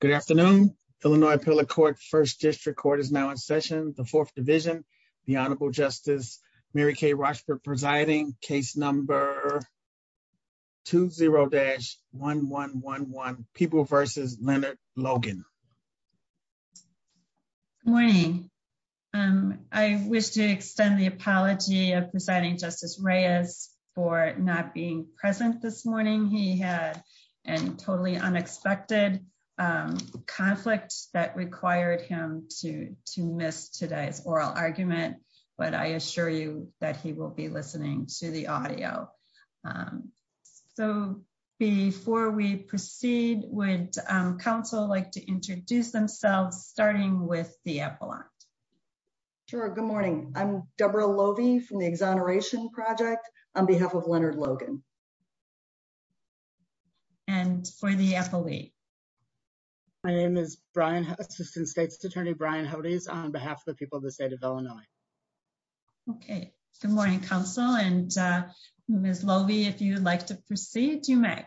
Good afternoon, Illinois appellate court first district court is now in session, the fourth division, the Honorable Justice Mary Kay Rochford presiding case number two zero dash one one one one people versus Leonard Logan. Morning. And I wish to extend the apology of presiding Justice Reyes for not being present this morning he had and totally unexpected conflict that required him to to miss today's oral argument, but I assure you that he will be listening to the audio. So, before we proceed with counsel like to introduce themselves, starting with the appellate. Sure. Good morning. I'm Deborah lovie from the exoneration project on behalf of Leonard Logan. And for the FAA. My name is Brian Assistant State's Attorney Brian how it is on behalf of the people of the state of Illinois. Okay. Good morning Council and Miss lovie if you'd like to proceed, you may.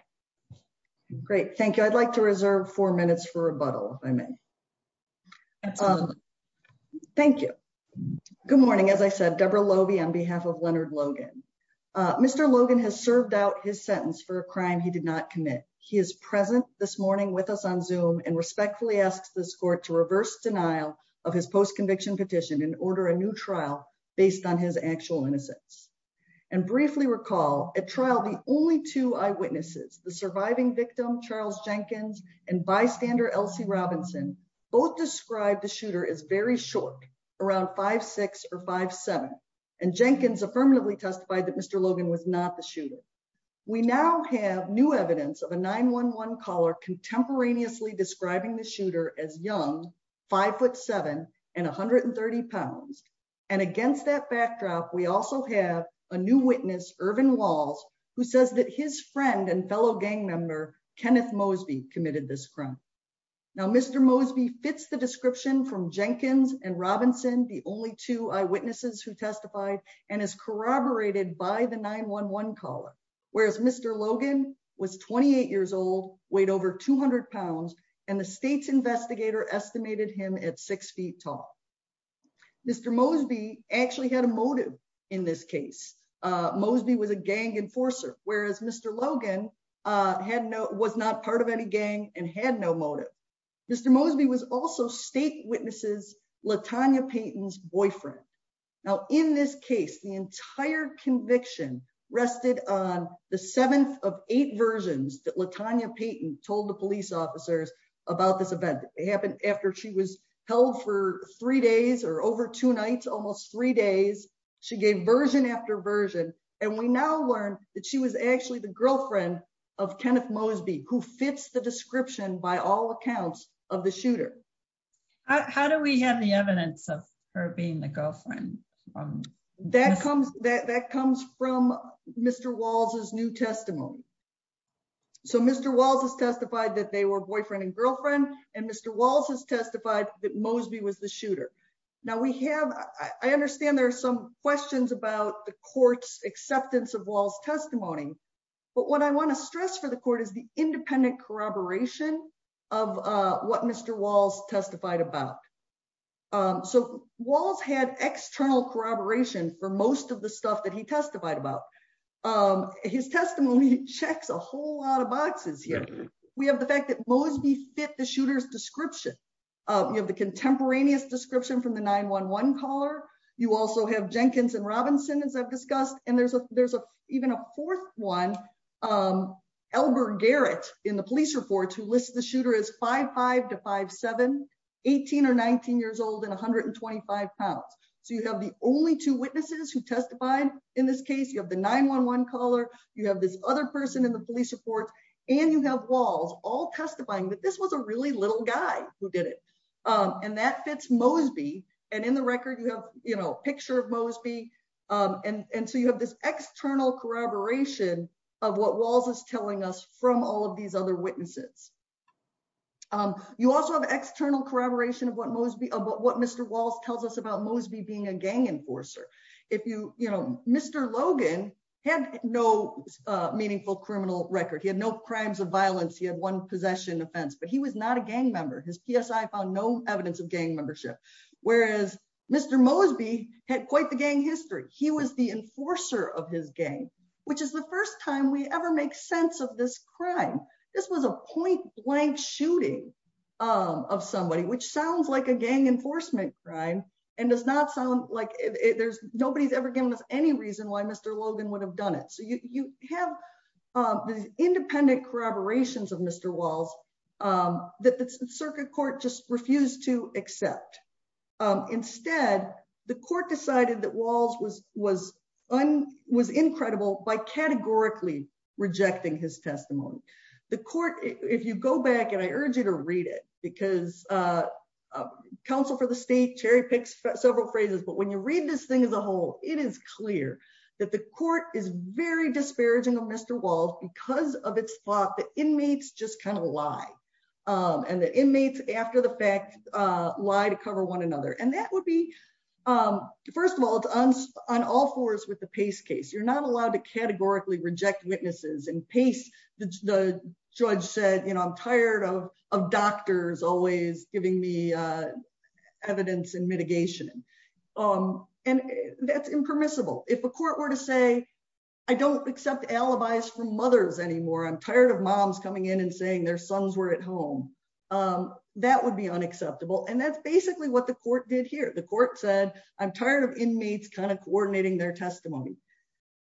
Great, thank you. I'd like to reserve four minutes for rebuttal, I mean, thank you. Good morning as I said Deborah lovie on behalf of Leonard Logan. Mr. Logan has served out his sentence for a crime he did not commit. He is present this morning with us on zoom and respectfully asks this court to reverse denial of his post conviction petition and order a new trial, based on his actual innocence and briefly recall a trial the only two eyewitnesses, the surviving victim Charles Jenkins and bystander Elsie Robinson, both described the shooter is very short around five six or five seven, and Jenkins affirmatively testified that Mr. And against that backdrop, we also have a new witness urban walls, who says that his friend and fellow gang member, Kenneth Mosby committed this crime. Now Mr Mosby fits the description from Jenkins and Robinson, the only two eyewitnesses who testified, and is corroborated by the 911 caller, whereas Mr. Logan was 28 years old, weighed over 200 pounds, and the state's investigator estimated him at six feet tall. Mr Mosby actually had a motive. In this case, Mosby was a gang enforcer, whereas Mr Logan had no was not part of any gang and had no motive. Mr Mosby was also state witnesses Latanya Peyton's boyfriend. Now, in this case, the entire conviction rested on the seventh of eight versions that Latanya Peyton told the police officers about this event, it happened after she was held for three days or over two nights almost three days. She gave version after version, and we now learn that she was actually the girlfriend of Kenneth Mosby who fits the description by all accounts of the shooter. How do we have the evidence of her being the girlfriend. That comes that that comes from Mr walls his new testimony. So Mr walls has testified that they were boyfriend and girlfriend, and Mr walls has testified that Mosby was the shooter. Now we have, I understand there are some questions about the courts acceptance of walls testimony. But what I want to stress for the court is the independent corroboration of what Mr walls testified about. So, walls had external corroboration for most of the stuff that he testified about his testimony checks a whole lot of boxes. We have the fact that Mosby fit the shooters description of you have the contemporaneous description from the 911 caller. You also have Jenkins and Robinson as I've discussed, and there's a there's a even a fourth one. Albert Garrett in the police report to list the shooter is five five to five 718 or 19 years old and 125 pounds. So you have the only two witnesses who testified in this case you have the 911 caller, you have this other person in the police report, and from all of these other witnesses. You also have external corroboration of what most be about what Mr walls tells us about Mosby being a gang enforcer. If you, you know, Mr Logan had no meaningful criminal record he had no crimes of violence he had one possession offense but he was not a gang member his PSI found no evidence of gang membership, whereas Mr Mosby had quite the gang history, he was the enforcer of his game, which is the first time we ever make sense of this crime. This was a point blank shooting of somebody which sounds like a gang enforcement crime, and does not sound like there's nobody's ever given us any reason why Mr Logan would have done it so you have the independent corroborations of Mr walls. That the circuit court just refused to accept. Instead, the court decided that walls was was on was incredible by categorically rejecting his testimony, the court, if you go back and I urge you to read it because council for the state cherry picks several phrases but when you read this thing as a whole, it is and the inmates, after the fact, lie to cover one another and that would be. First of all, on all fours with the pace case you're not allowed to categorically reject witnesses and pace, the judge said you know I'm tired of, of doctors always giving me evidence and mitigation. And that's impermissible, if a court were to say, I don't accept alibis for mothers anymore I'm tired of moms coming in and saying their sons were at home. That would be unacceptable and that's basically what the court did here the court said, I'm tired of inmates kind of coordinating their testimony.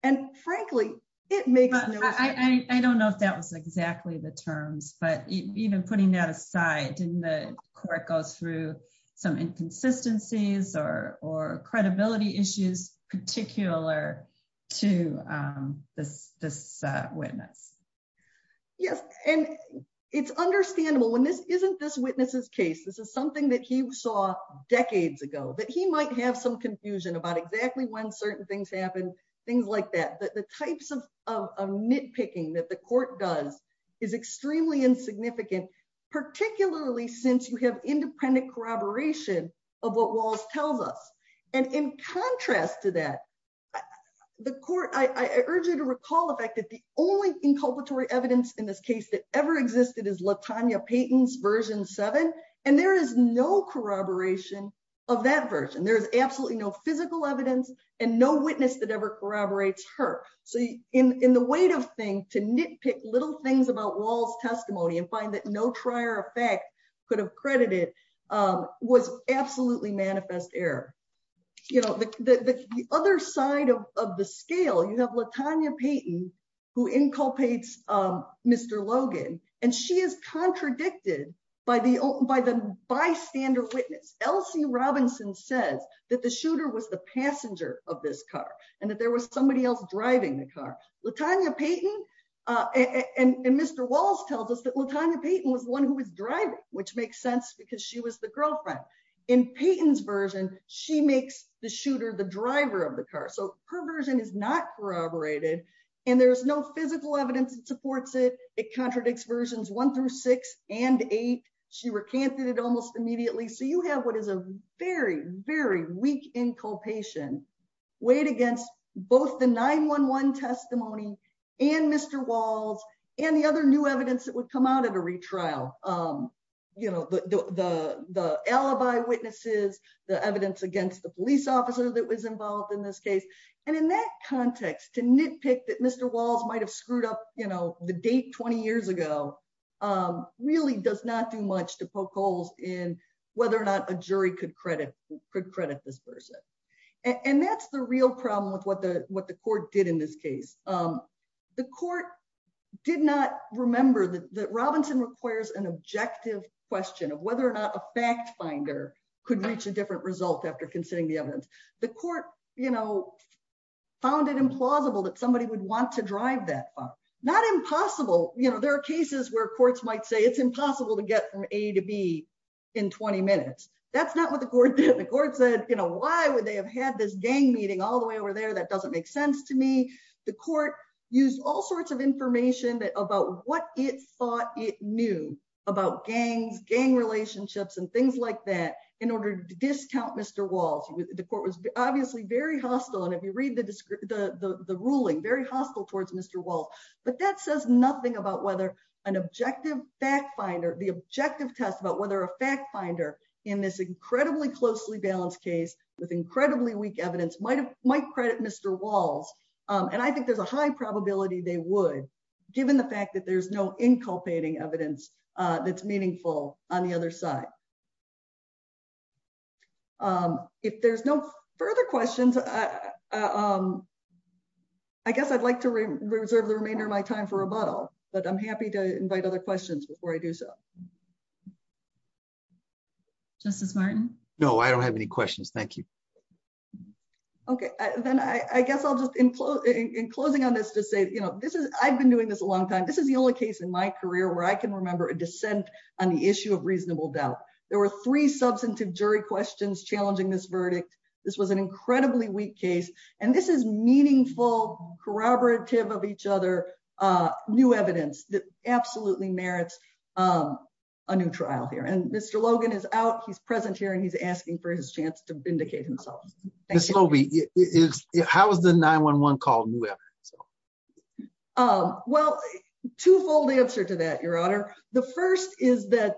And frankly, it may, I don't know if that was exactly the terms but even putting that aside and the court goes through some inconsistencies or or credibility issues, particular to this, this witness. Yes, and it's understandable when this isn't this witnesses case this is something that he saw decades ago that he might have some confusion about exactly when certain things happen, things like that the types of nitpicking that the court does is extremely insignificant, particularly since you have independent corroboration of what was tells us. And in contrast to that, the court, I urge you to recall the fact that the only inculpatory evidence in this case that ever existed is Latonya Payton's version seven, and there is no corroboration of that version there's absolutely no physical evidence, and no witness that ever corroborates her. So, in the weight of thing to nitpick little things about walls testimony and find that no trier effect could have credited was absolutely manifest error. You know, the other side of the scale you have Latonya Payton, who inculpates Mr. Logan, and she is contradicted by the, by the bystander witness LC Robinson says that the shooter was the passenger of this car, and that there was somebody else driving the car, Latonya Payton, and Mr. Walls tells us that Latonya Payton was one who was driving, which makes sense because she was the girlfriend in Payton's version, she makes the shooter the driver of the car so her version is not corroborated. And there's no physical evidence that supports it, it contradicts versions one through six and eight. She recanted it almost immediately so you have what is a very, very weak inculpation weight against both the 911 testimony, and Mr. Walls might have screwed up, you know, the date 20 years ago, really does not do much to poke holes in whether or not a jury could credit could credit this person. And that's the real problem with what the what the court did in this case. The court did not remember that Robinson requires an objective question of whether or not a fact finder could reach a different result after considering the evidence. The court, you know, found it implausible that somebody would want to drive that far, not impossible, you know there are cases where courts might say it's impossible to get from A to B in 20 minutes. That's not what the court did the court said, you know, why would they have had this gang meeting all the way over there that doesn't make sense to me. The court used all sorts of information that about what it thought it knew about gangs gang relationships and things like that, in order to discount Mr. Walls, the court was obviously very hostile and if you read the, the, the ruling very hostile towards Mr. But that says nothing about whether an objective fact finder the objective test about whether a fact finder in this incredibly closely balanced case with incredibly weak evidence might have might credit Mr. Walls, and I think there's a high probability they would, given the fact that there's no inculcating evidence that's meaningful on the other side. If there's no further questions. I guess I'd like to reserve the remainder of my time for a bottle, but I'm happy to invite other questions before I do so. Justice Martin. No, I don't have any questions. Thank you. Okay, then I guess I'll just include in closing on this to say you know this is I've been doing this a long time this is the only case in my career where I can remember a dissent on the issue of reasonable doubt, there were three substantive jury questions this was an incredibly weak case, and this is meaningful corroborative of each other. New evidence that absolutely merits a new trial here and Mr Logan is out he's present here and he's asking for his chance to vindicate himself. How is the 911 call. Well, twofold answer to that, Your Honor. The first is that,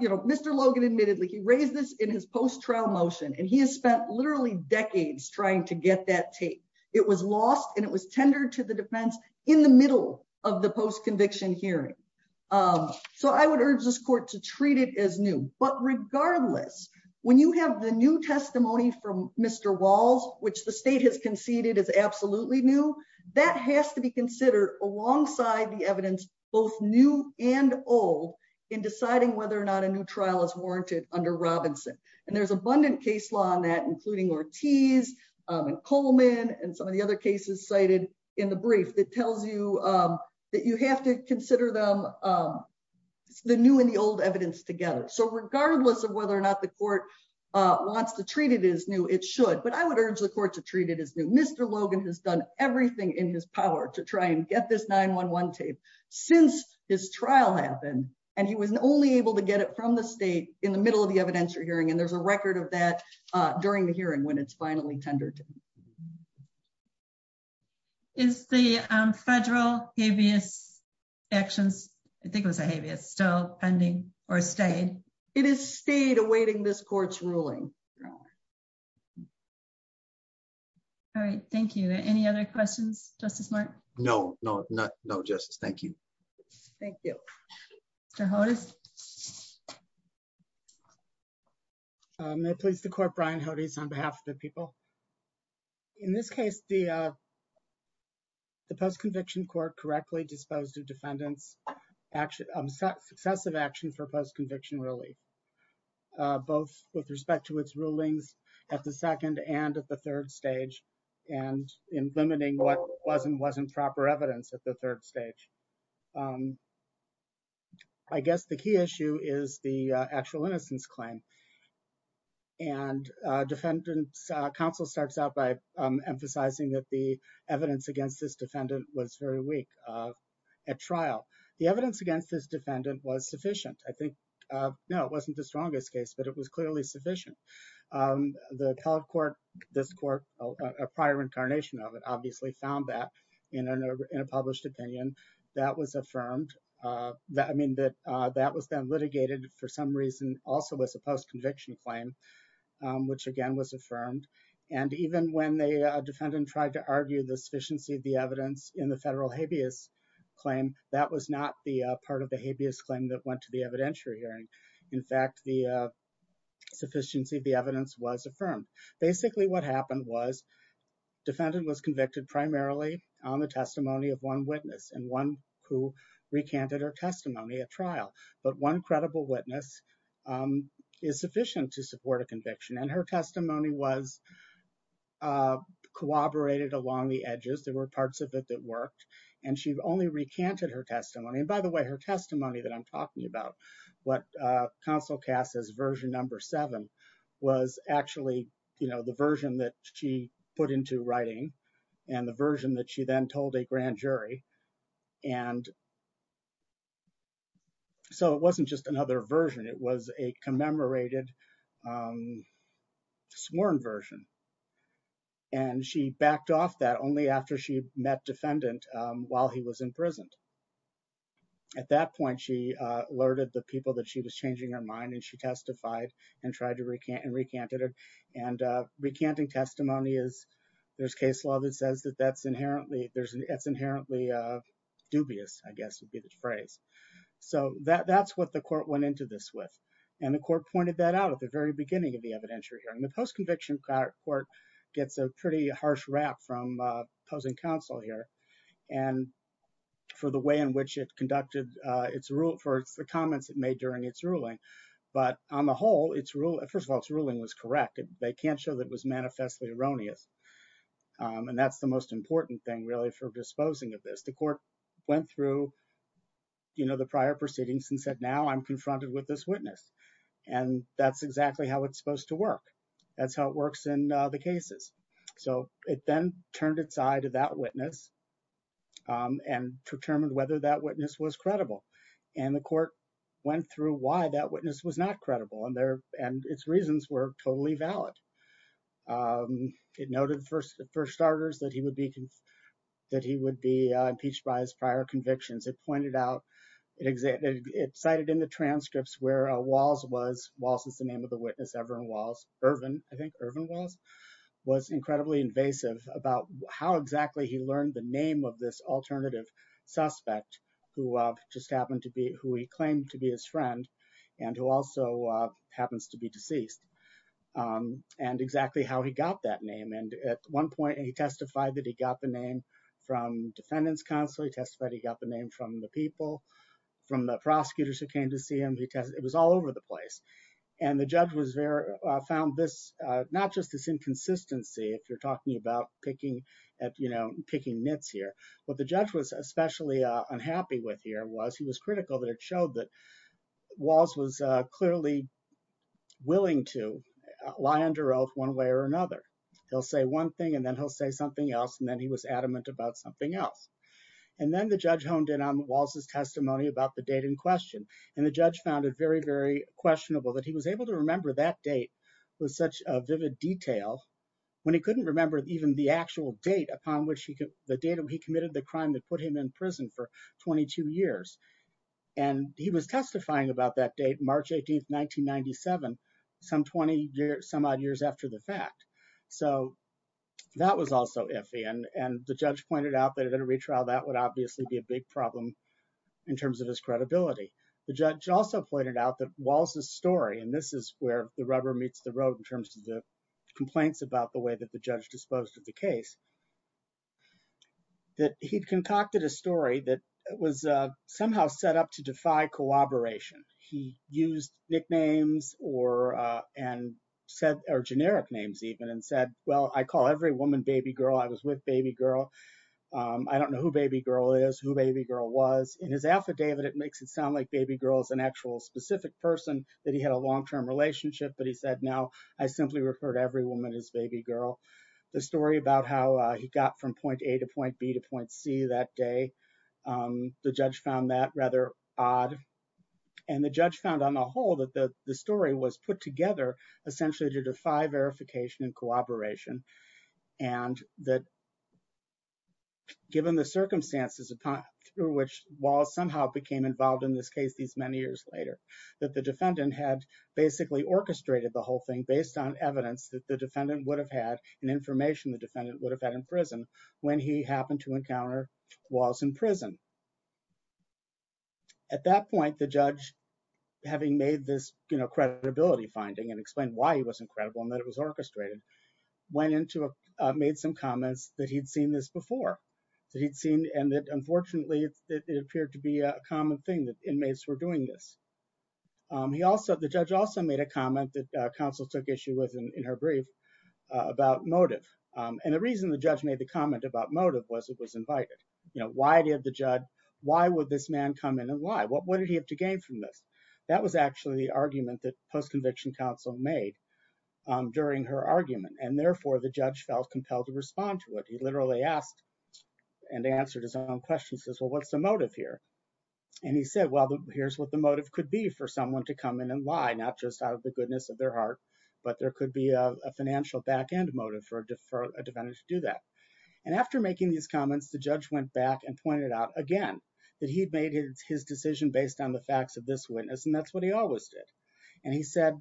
you know, Mr Logan admittedly he raised this in his post trial motion and he has spent literally decades trying to get that tape. It was lost and it was tendered to the defense in the middle of the post conviction hearing. So I would urge this court to treat it as new, but regardless, when you have the new testimony from Mr walls, which the state has conceded is absolutely new. That has to be considered alongside the evidence, both new and old in deciding whether or not a new trial is warranted under Robinson, and there's abundant case law on that including Ortiz Coleman and some of the other cases cited in the brief that tells you that you have to consider them. The new and the old evidence together so regardless of whether or not the court wants to treat it as new it should but I would urge the court to treat it as new Mr Logan has done everything in his power to try and get this 911 tape. Since his trial happened, and he was only able to get it from the state in the middle of the evidence you're hearing and there's a record of that during the hearing when it's finally tendered. Is the federal habeas actions. I think it was a habeas still pending or stayed. It is stayed awaiting this court's ruling. All right, thank you. Any other questions, just as much. No, no, no, no justice. Thank you. Thank you. So how does it please the court Brian how to use on behalf of the people. In this case, the, the post conviction court correctly disposed of defendants action set successive action for post conviction really both with respect to its ruling. I guess the key issue is the actual innocence claim and defendants counsel starts out by emphasizing that the evidence against this defendant was very weak at trial, the evidence against this defendant was sufficient, I think. No, it wasn't the strongest case but it was clearly sufficient. The appellate court, this court, a prior incarnation of it obviously found that, you know, in a published opinion that was affirmed that I mean that that was then litigated for some reason, also as a post conviction claim, which again was affirmed. And even when they defend and tried to argue the sufficiency of the evidence in the federal habeas claim that was not the part of the habeas claim that went to the evidentiary hearing. In fact, the sufficiency of the evidence was affirmed. Basically what happened was defendant was convicted primarily on the testimony of one witness and one who recanted or testimony at trial, but one credible witness is sufficient to support a conviction and her testimony was corroborated along the edges there were parts of it that worked, and she only recanted her testimony and by the way her testimony that I'm talking about what console cast as version number seven was actually, you know, the version that she put into writing, and the version that she then told a grand jury. And so it wasn't just another version it was a commemorated sworn version. And she backed off that only after she met defendant, while he was in prison. At that point she alerted the people that she was changing her mind and she testified and tried to recant and recanted and recanting testimony is there's case law that says that that's inherently there's an it's inherently dubious, I guess would be the phrase. So that that's what the court went into this with, and the court pointed that out at the very beginning of the evidentiary hearing the post conviction court gets a pretty harsh rap from opposing counsel here. And for the way in which it conducted its rule for the comments it made during its ruling. But on the whole, it's really first of all it's ruling was corrected, they can't show that was manifestly erroneous. And that's the most important thing really for disposing of this the court went through, you know, the prior proceedings and said now I'm confronted with this witness. And that's exactly how it's supposed to work. That's how it works in the cases. So, it then turned its eye to that witness and determined whether that witness was credible, and the court went through why that witness was not credible and their, and its reasons were totally valid. It noted first for starters that he would be that he would be impeached by his prior convictions it pointed out it exactly it cited in the transcripts where walls was was the name of the witness everyone was urban, I think, urban was was incredibly invasive about how exactly he learned the name of this alternative suspect, who just happened to be who he claimed to be his friend, and who also happens to be deceased, and exactly how he got that name and at one point he testified that he got the name from defendants he testified he got the name from the people from the prosecutors who came to see him because it was all over the place. And the judge was there, found this, not just this inconsistency if you're talking about picking at you know picking nets here, but the judge was especially unhappy with here was he was critical that it showed that was was clearly willing to lie under oath one way or another. He'll say one thing and then he'll say something else and then he was adamant about something else. And then the judge honed in on the walls his testimony about the date in question, and the judge found it very very questionable that he was able to remember that date was such a vivid detail. When he couldn't remember even the actual date upon which he could the data he committed the crime that put him in prison for 22 years, and he was testifying about that date March 18 1997 some 20 years some odd years after the fact. So, that was also iffy and and the judge pointed out that in a retrial that would obviously be a big problem. In terms of his credibility. The judge also pointed out that walls the story and this is where the rubber meets the road in terms of the complaints about the way that the judge disposed of the case that he'd concocted a story that was somehow set up to defy He used nicknames, or, and said, or generic names even and said, Well, I call every woman baby girl I was with baby girl. I don't know who baby girl is who baby girl was in his affidavit it makes it sound like baby girls and actual specific person that he had a long term relationship but he said now I simply referred every woman is baby girl. The story about how he got from point A to point B to point C that day. The judge found that rather odd. And the judge found on the whole that the story was put together, essentially to defy verification and cooperation, and that, given the circumstances upon through which was somehow became involved in this case these many years later, that the defendant had basically orchestrated the whole thing based on evidence that the defendant would have had an information the defendant would have had in prison, when he happened to encounter was in prison. At that point, the judge, having made this, you know credibility finding and explain why he wasn't credible and that it was orchestrated went into a made some comments that he'd seen this before. So he'd seen and that unfortunately it appeared to be a common thing that inmates were doing this. He also the judge also made a comment that counsel took issue with in her brief about motive. And the reason the judge made the comment about motive was it was invited, you know, why did the judge, why would this man come in and why what what did he have to gain from this. That was actually the argument that post conviction counsel made during her argument and therefore the judge felt compelled to respond to it he literally asked and answered his own question says well what's the motive here. And he said, Well, here's what the motive could be for someone to come in and lie not just out of the goodness of their heart, but there could be a financial back end motive for deferred advantage to do that. And after making these comments the judge went back and pointed out again that he'd made his decision based on the facts of this witness and that's what he always did. And he said,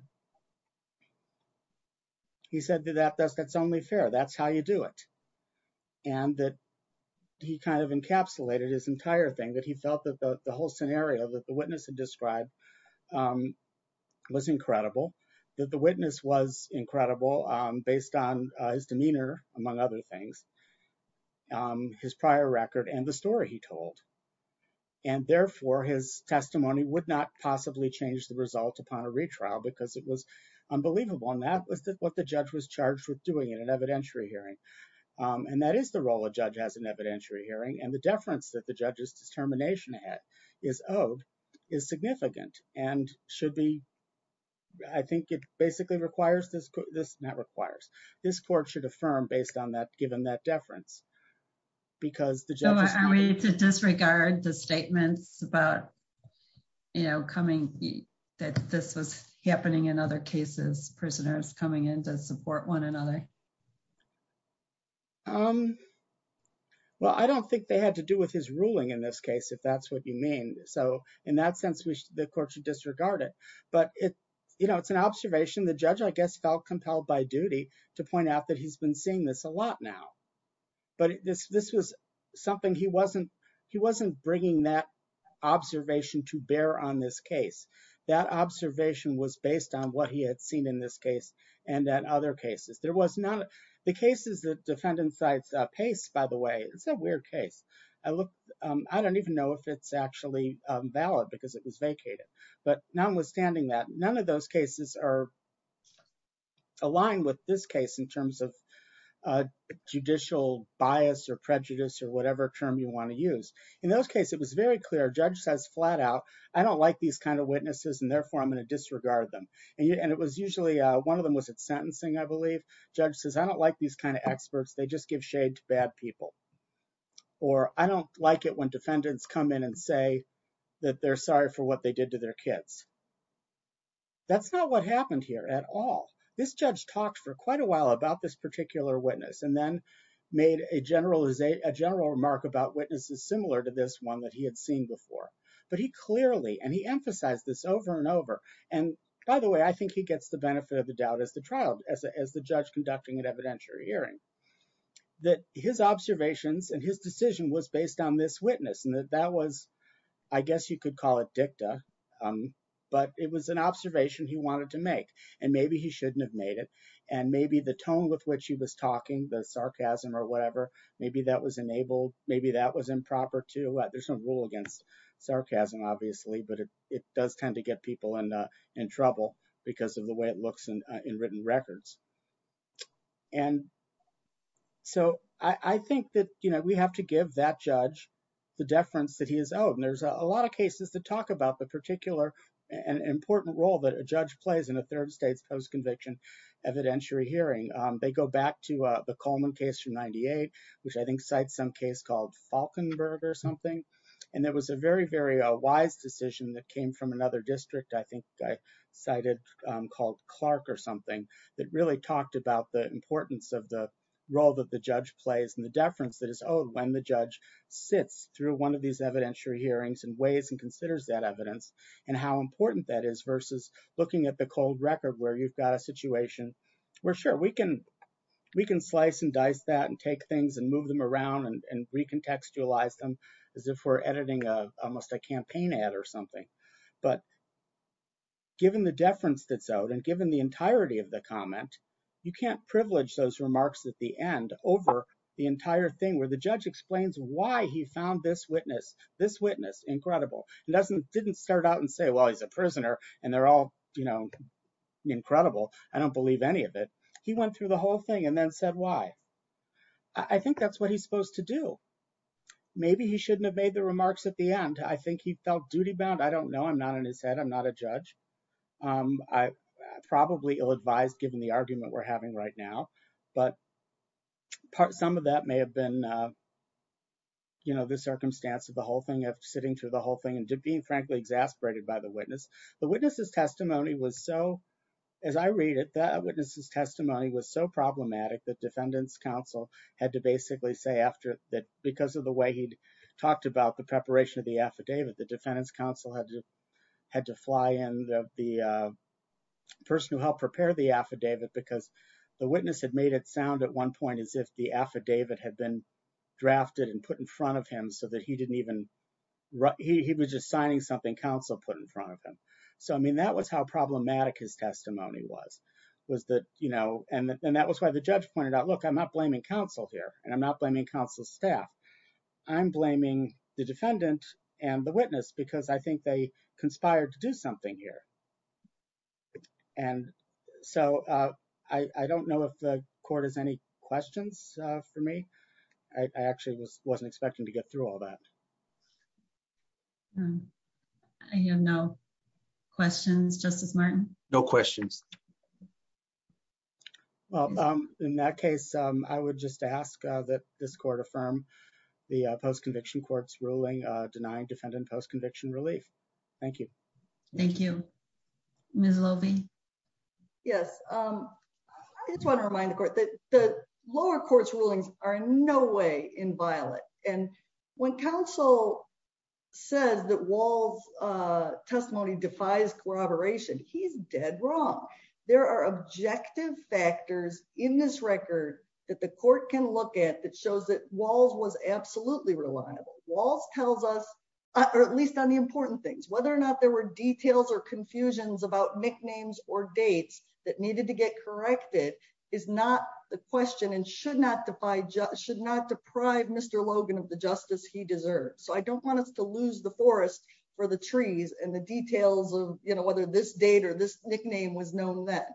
he said that that's that's only fair that's how you do it. And that he kind of encapsulated his entire thing that he felt that the whole scenario that the witness and described was incredible that the witness was incredible, based on his demeanor, among other things, his prior record and the story he told. And therefore his testimony would not possibly change the result upon a retrial because it was unbelievable and that was what the judge was charged with doing in an evidentiary hearing. And that is the role of judge has an evidentiary hearing and the difference that the judges determination is owed is significant and should be. I think it basically requires this, this never requires this court should affirm based on that, given that deference, because the job is to disregard the statements about, you know, coming that this was happening in other cases prisoners coming in to support one another. Um, well, I don't think they had to do with his ruling in this case, if that's what you mean. So, in that sense, which the court should disregard it, but it's, you know, it's an observation the judge I guess felt compelled by duty to point out that he's been seeing this a lot now. But this, this was something he wasn't, he wasn't bringing that observation to bear on this case that observation was based on what he had seen in this case, and that other cases there was not the cases that defendant sites pace, by the way, it's a weird case. I don't even know if it's actually valid because it was vacated. But now, withstanding that none of those cases are aligned with this case in terms of judicial bias or prejudice or whatever term you want to use in those cases. I don't like these kind of witnesses, and therefore, I'm going to disregard them. And it was usually one of them was at sentencing. I believe judge says, I don't like these kind of experts. They just give shade to bad people, or I don't like it when defendants come in and say that they're sorry for what they did to their kids. That's not what happened here at all. This judge talked for quite a while about this particular witness and then made a general remark about witnesses similar to this one that he had seen before, but he clearly and he emphasized this over and over. And by the way, I think he gets the benefit of the doubt as the trial as the judge conducting an evidentiary hearing that his observations and his decision was based on this witness and that was, I guess you could call it dicta. But it was an observation he wanted to make, and maybe he shouldn't have made it. And maybe the tone with which he was talking, the sarcasm or whatever, maybe that was enabled. Maybe that was improper too. There's no rule against sarcasm, obviously, but it does tend to get people in trouble because of the way it looks in written records. And so I think that we have to give that judge the deference that he is owed. And there's a lot of cases that talk about the particular and important role that a judge plays in a third state's post-conviction evidentiary hearing. They go back to the Coleman case from 98, which I think cites some case called Falkenberg or something. And there was a very, very wise decision that came from another district, I think I cited called Clark or something, that really talked about the importance of the role that the judge plays and the deference that is owed when the judge sits through one of these evidentiary hearings and weighs and considers that evidence and how important that is versus looking at the cold record where you've got a situation where we can slice and dice that and take things and move them around and recontextualize them as if we're editing almost a campaign ad or something. But given the deference that's owed and given the entirety of the comment, you can't privilege those remarks at the end over the entire thing where the judge explains why he found this witness incredible. It didn't start out and say, well, he's a prisoner and they're all incredible. I don't believe any of it. He went through the whole thing and then said why. I think that's what he's supposed to do. Maybe he shouldn't have made the remarks at the end. I think he felt duty bound. I don't know. I'm not in his head. I'm not a judge. I'm probably ill-advised given the argument we're having right now. But some of that may have been the circumstance of the whole thing, of sitting through the whole thing and being frankly exasperated by the witness. The witness's testimony was so, as I read it, that witness's testimony was so problematic that defendants counsel had to basically say after that because of the way he'd talked about the preparation of the affidavit, the defendants counsel had to fly in the person who helped prepare the affidavit because the witness had made it sound at one point as if the affidavit had been drafted and put in front of him so that he didn't even, he was just signing something counsel put in front of him. So, I mean, that was how problematic his testimony was. And that was why the judge pointed out, look, I'm not blaming counsel here and I'm not blaming counsel's staff. I'm blaming the defendant and the witness because I think they conspired to do something here. And so I don't know if the court has any questions for me. I actually wasn't expecting to get through all that. I have no questions, Justice Martin. No questions. Well, in that case, I would just ask that this court affirm the post conviction courts ruling denying defendant post conviction relief. Thank you. Thank you, Miss Lovie. Yes. I just want to remind the court that the lower courts rulings are in no way inviolate. And when counsel says that Walls testimony defies corroboration, he's dead wrong. There are objective factors in this record that the court can look at that shows that Walls was absolutely reliable. Walls tells us, or at least on the important things, whether or not there were details or confusions about nicknames or dates that needed to get corrected is not the question and should not deprive Mr. Logan of the justice he deserves. So I don't want us to lose the forest for the trees and the details of, you know, whether this date or this nickname was known that.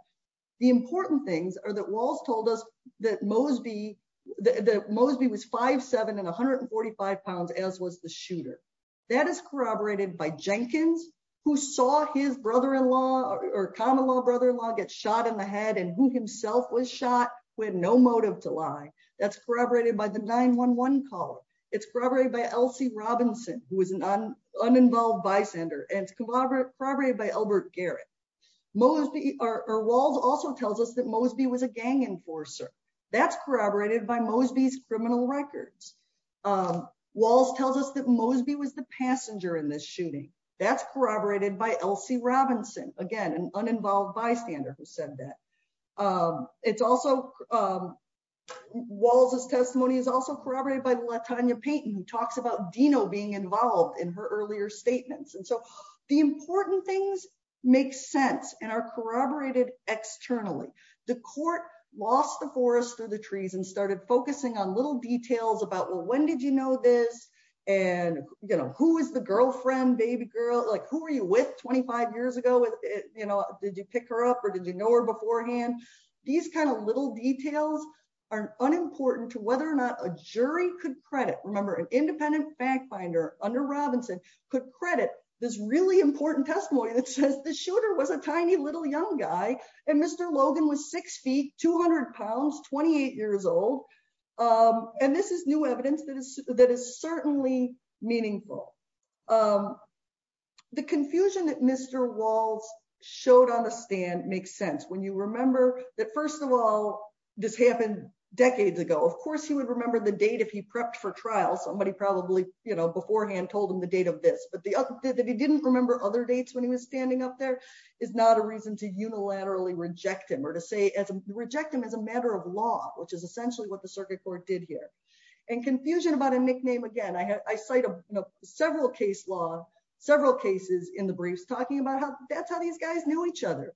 The important things are that Walls told us that Mosby was 5'7 and 145 pounds as was the shooter. That is corroborated by Jenkins, who saw his brother-in-law or common law brother-in-law get shot in the head and who himself was shot with no motive to lie. That's corroborated by the 911 caller. It's corroborated by Elsie Robinson, who was an uninvolved bystander and corroborated by Albert Garrett. Walls also tells us that Mosby was a gang enforcer. That's corroborated by Mosby's criminal records. Walls tells us that Mosby was the passenger in this shooting. That's corroborated by Elsie Robinson, again, an uninvolved bystander who said that. It's also Walls' testimony is also corroborated by Latanya Payton, who talks about Dino being involved in her earlier statements. And so the important things make sense and are corroborated externally. The court lost the forest for the trees and started focusing on little details about, well, when did you know this? And, you know, who is the girlfriend, baby girl? Like, who are you with 25 years ago? You know, did you pick her up or did you know her beforehand? These kind of little details are unimportant to whether or not a jury could credit. Remember, an independent bank finder under Robinson could credit this really important testimony that says the shooter was a tiny little young guy. And Mr. Logan was six feet, 200 pounds, 28 years old. And this is new evidence that is that is certainly meaningful. The confusion that Mr. Walls showed on the stand makes sense when you remember that, first of all, this happened decades ago. Of course, he would remember the date if he prepped for trial. Somebody probably, you know, beforehand told him the date of this. But the other that he didn't remember other dates when he was standing up there is not a reason to unilaterally reject him or to say as reject him as a matter of law, which is essentially what the circuit court did here. And confusion about a nickname. Again, I cite several case law, several cases in the briefs talking about how that's how these guys knew each other.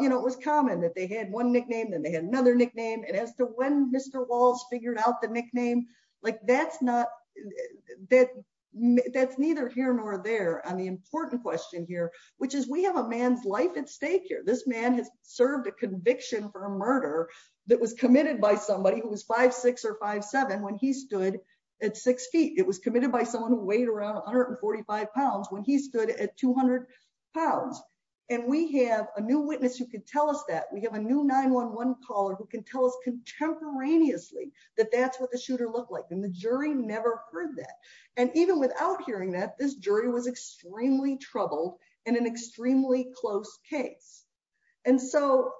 You know, it was common that they had one nickname and they had another nickname. And as to when Mr. Walls figured out the nickname, like that's not that. That's neither here nor there on the important question here, which is we have a man's life at stake here. This man has served a conviction for a murder that was committed by somebody who was five, six or five, seven when he stood at six feet. It was committed by someone who weighed around 145 pounds when he stood at 200 pounds. And we have a new witness who could tell us that we have a new 911 caller who can tell us contemporaneously that that's what the shooter looked like. And the jury never heard that. And even without hearing that, this jury was extremely troubled in an extremely close case. And so,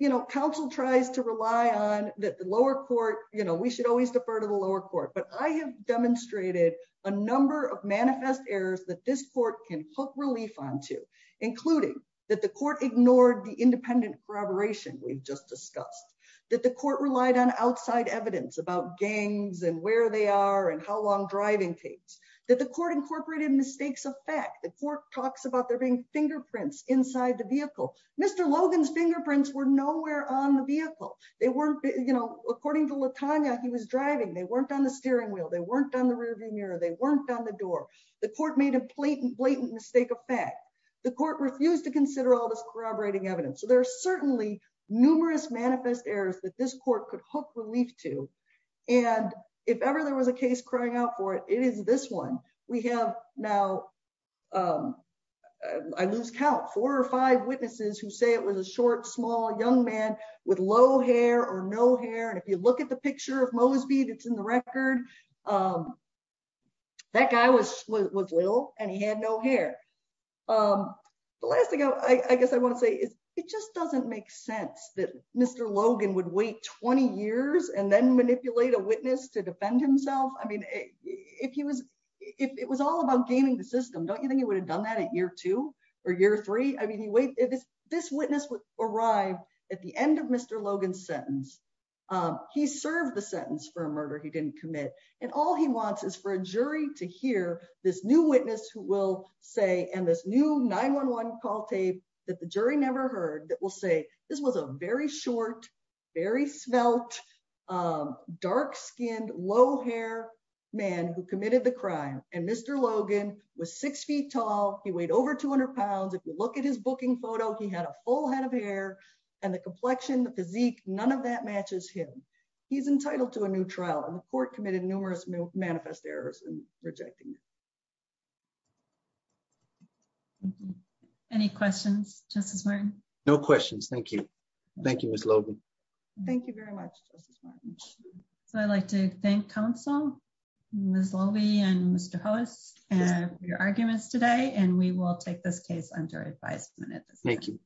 you know, counsel tries to rely on the lower court. You know, we should always defer to the lower court. But I have demonstrated a number of manifest errors that this court can hook relief on to, including that the court ignored the independent corroboration. We've just discussed that the court relied on outside evidence about gangs and where they are and how long driving takes. That the court incorporated mistakes of fact. The court talks about there being fingerprints inside the vehicle. Mr. Logan's fingerprints were nowhere on the vehicle. They weren't, you know, according to Latanya, he was driving. They weren't on the steering wheel. They weren't on the rearview mirror. They weren't on the door. The court made a blatant, blatant mistake of fact. The court refused to consider all this corroborating evidence. So there are certainly numerous manifest errors that this court could hook relief to. And if ever there was a case crying out for it, it is this one we have now. I lose count. Four or five witnesses who say it was a short, small young man with low hair or no hair. And if you look at the picture of Mosby, it's in the record. That guy was was little and he had no hair. The last thing I guess I want to say is it just doesn't make sense that Mr. Logan would wait 20 years and then manipulate a witness to defend himself. I mean, if he was if it was all about gaming the system, don't you think he would have done that at year two or year three? I mean, he waited. This witness would arrive at the end of Mr. Logan's sentence. He served the sentence for a murder he didn't commit. And all he wants is for a jury to hear this new witness who will say and this new 911 call tape that the jury never heard. That will say this was a very short, very smelt, dark skinned, low hair man who committed the crime. And Mr. Logan was six feet tall. He weighed over 200 pounds. If you look at his booking photo, he had a full head of hair and the complexion, the physique. None of that matches him. He's entitled to a new trial. And the court committed numerous manifest errors in rejecting. Any questions, Justice Martin? No questions. Thank you. Thank you, Miss Logan. Thank you very much. So I'd like to thank counsel, Ms. And we will take this case under advisement. Thank you.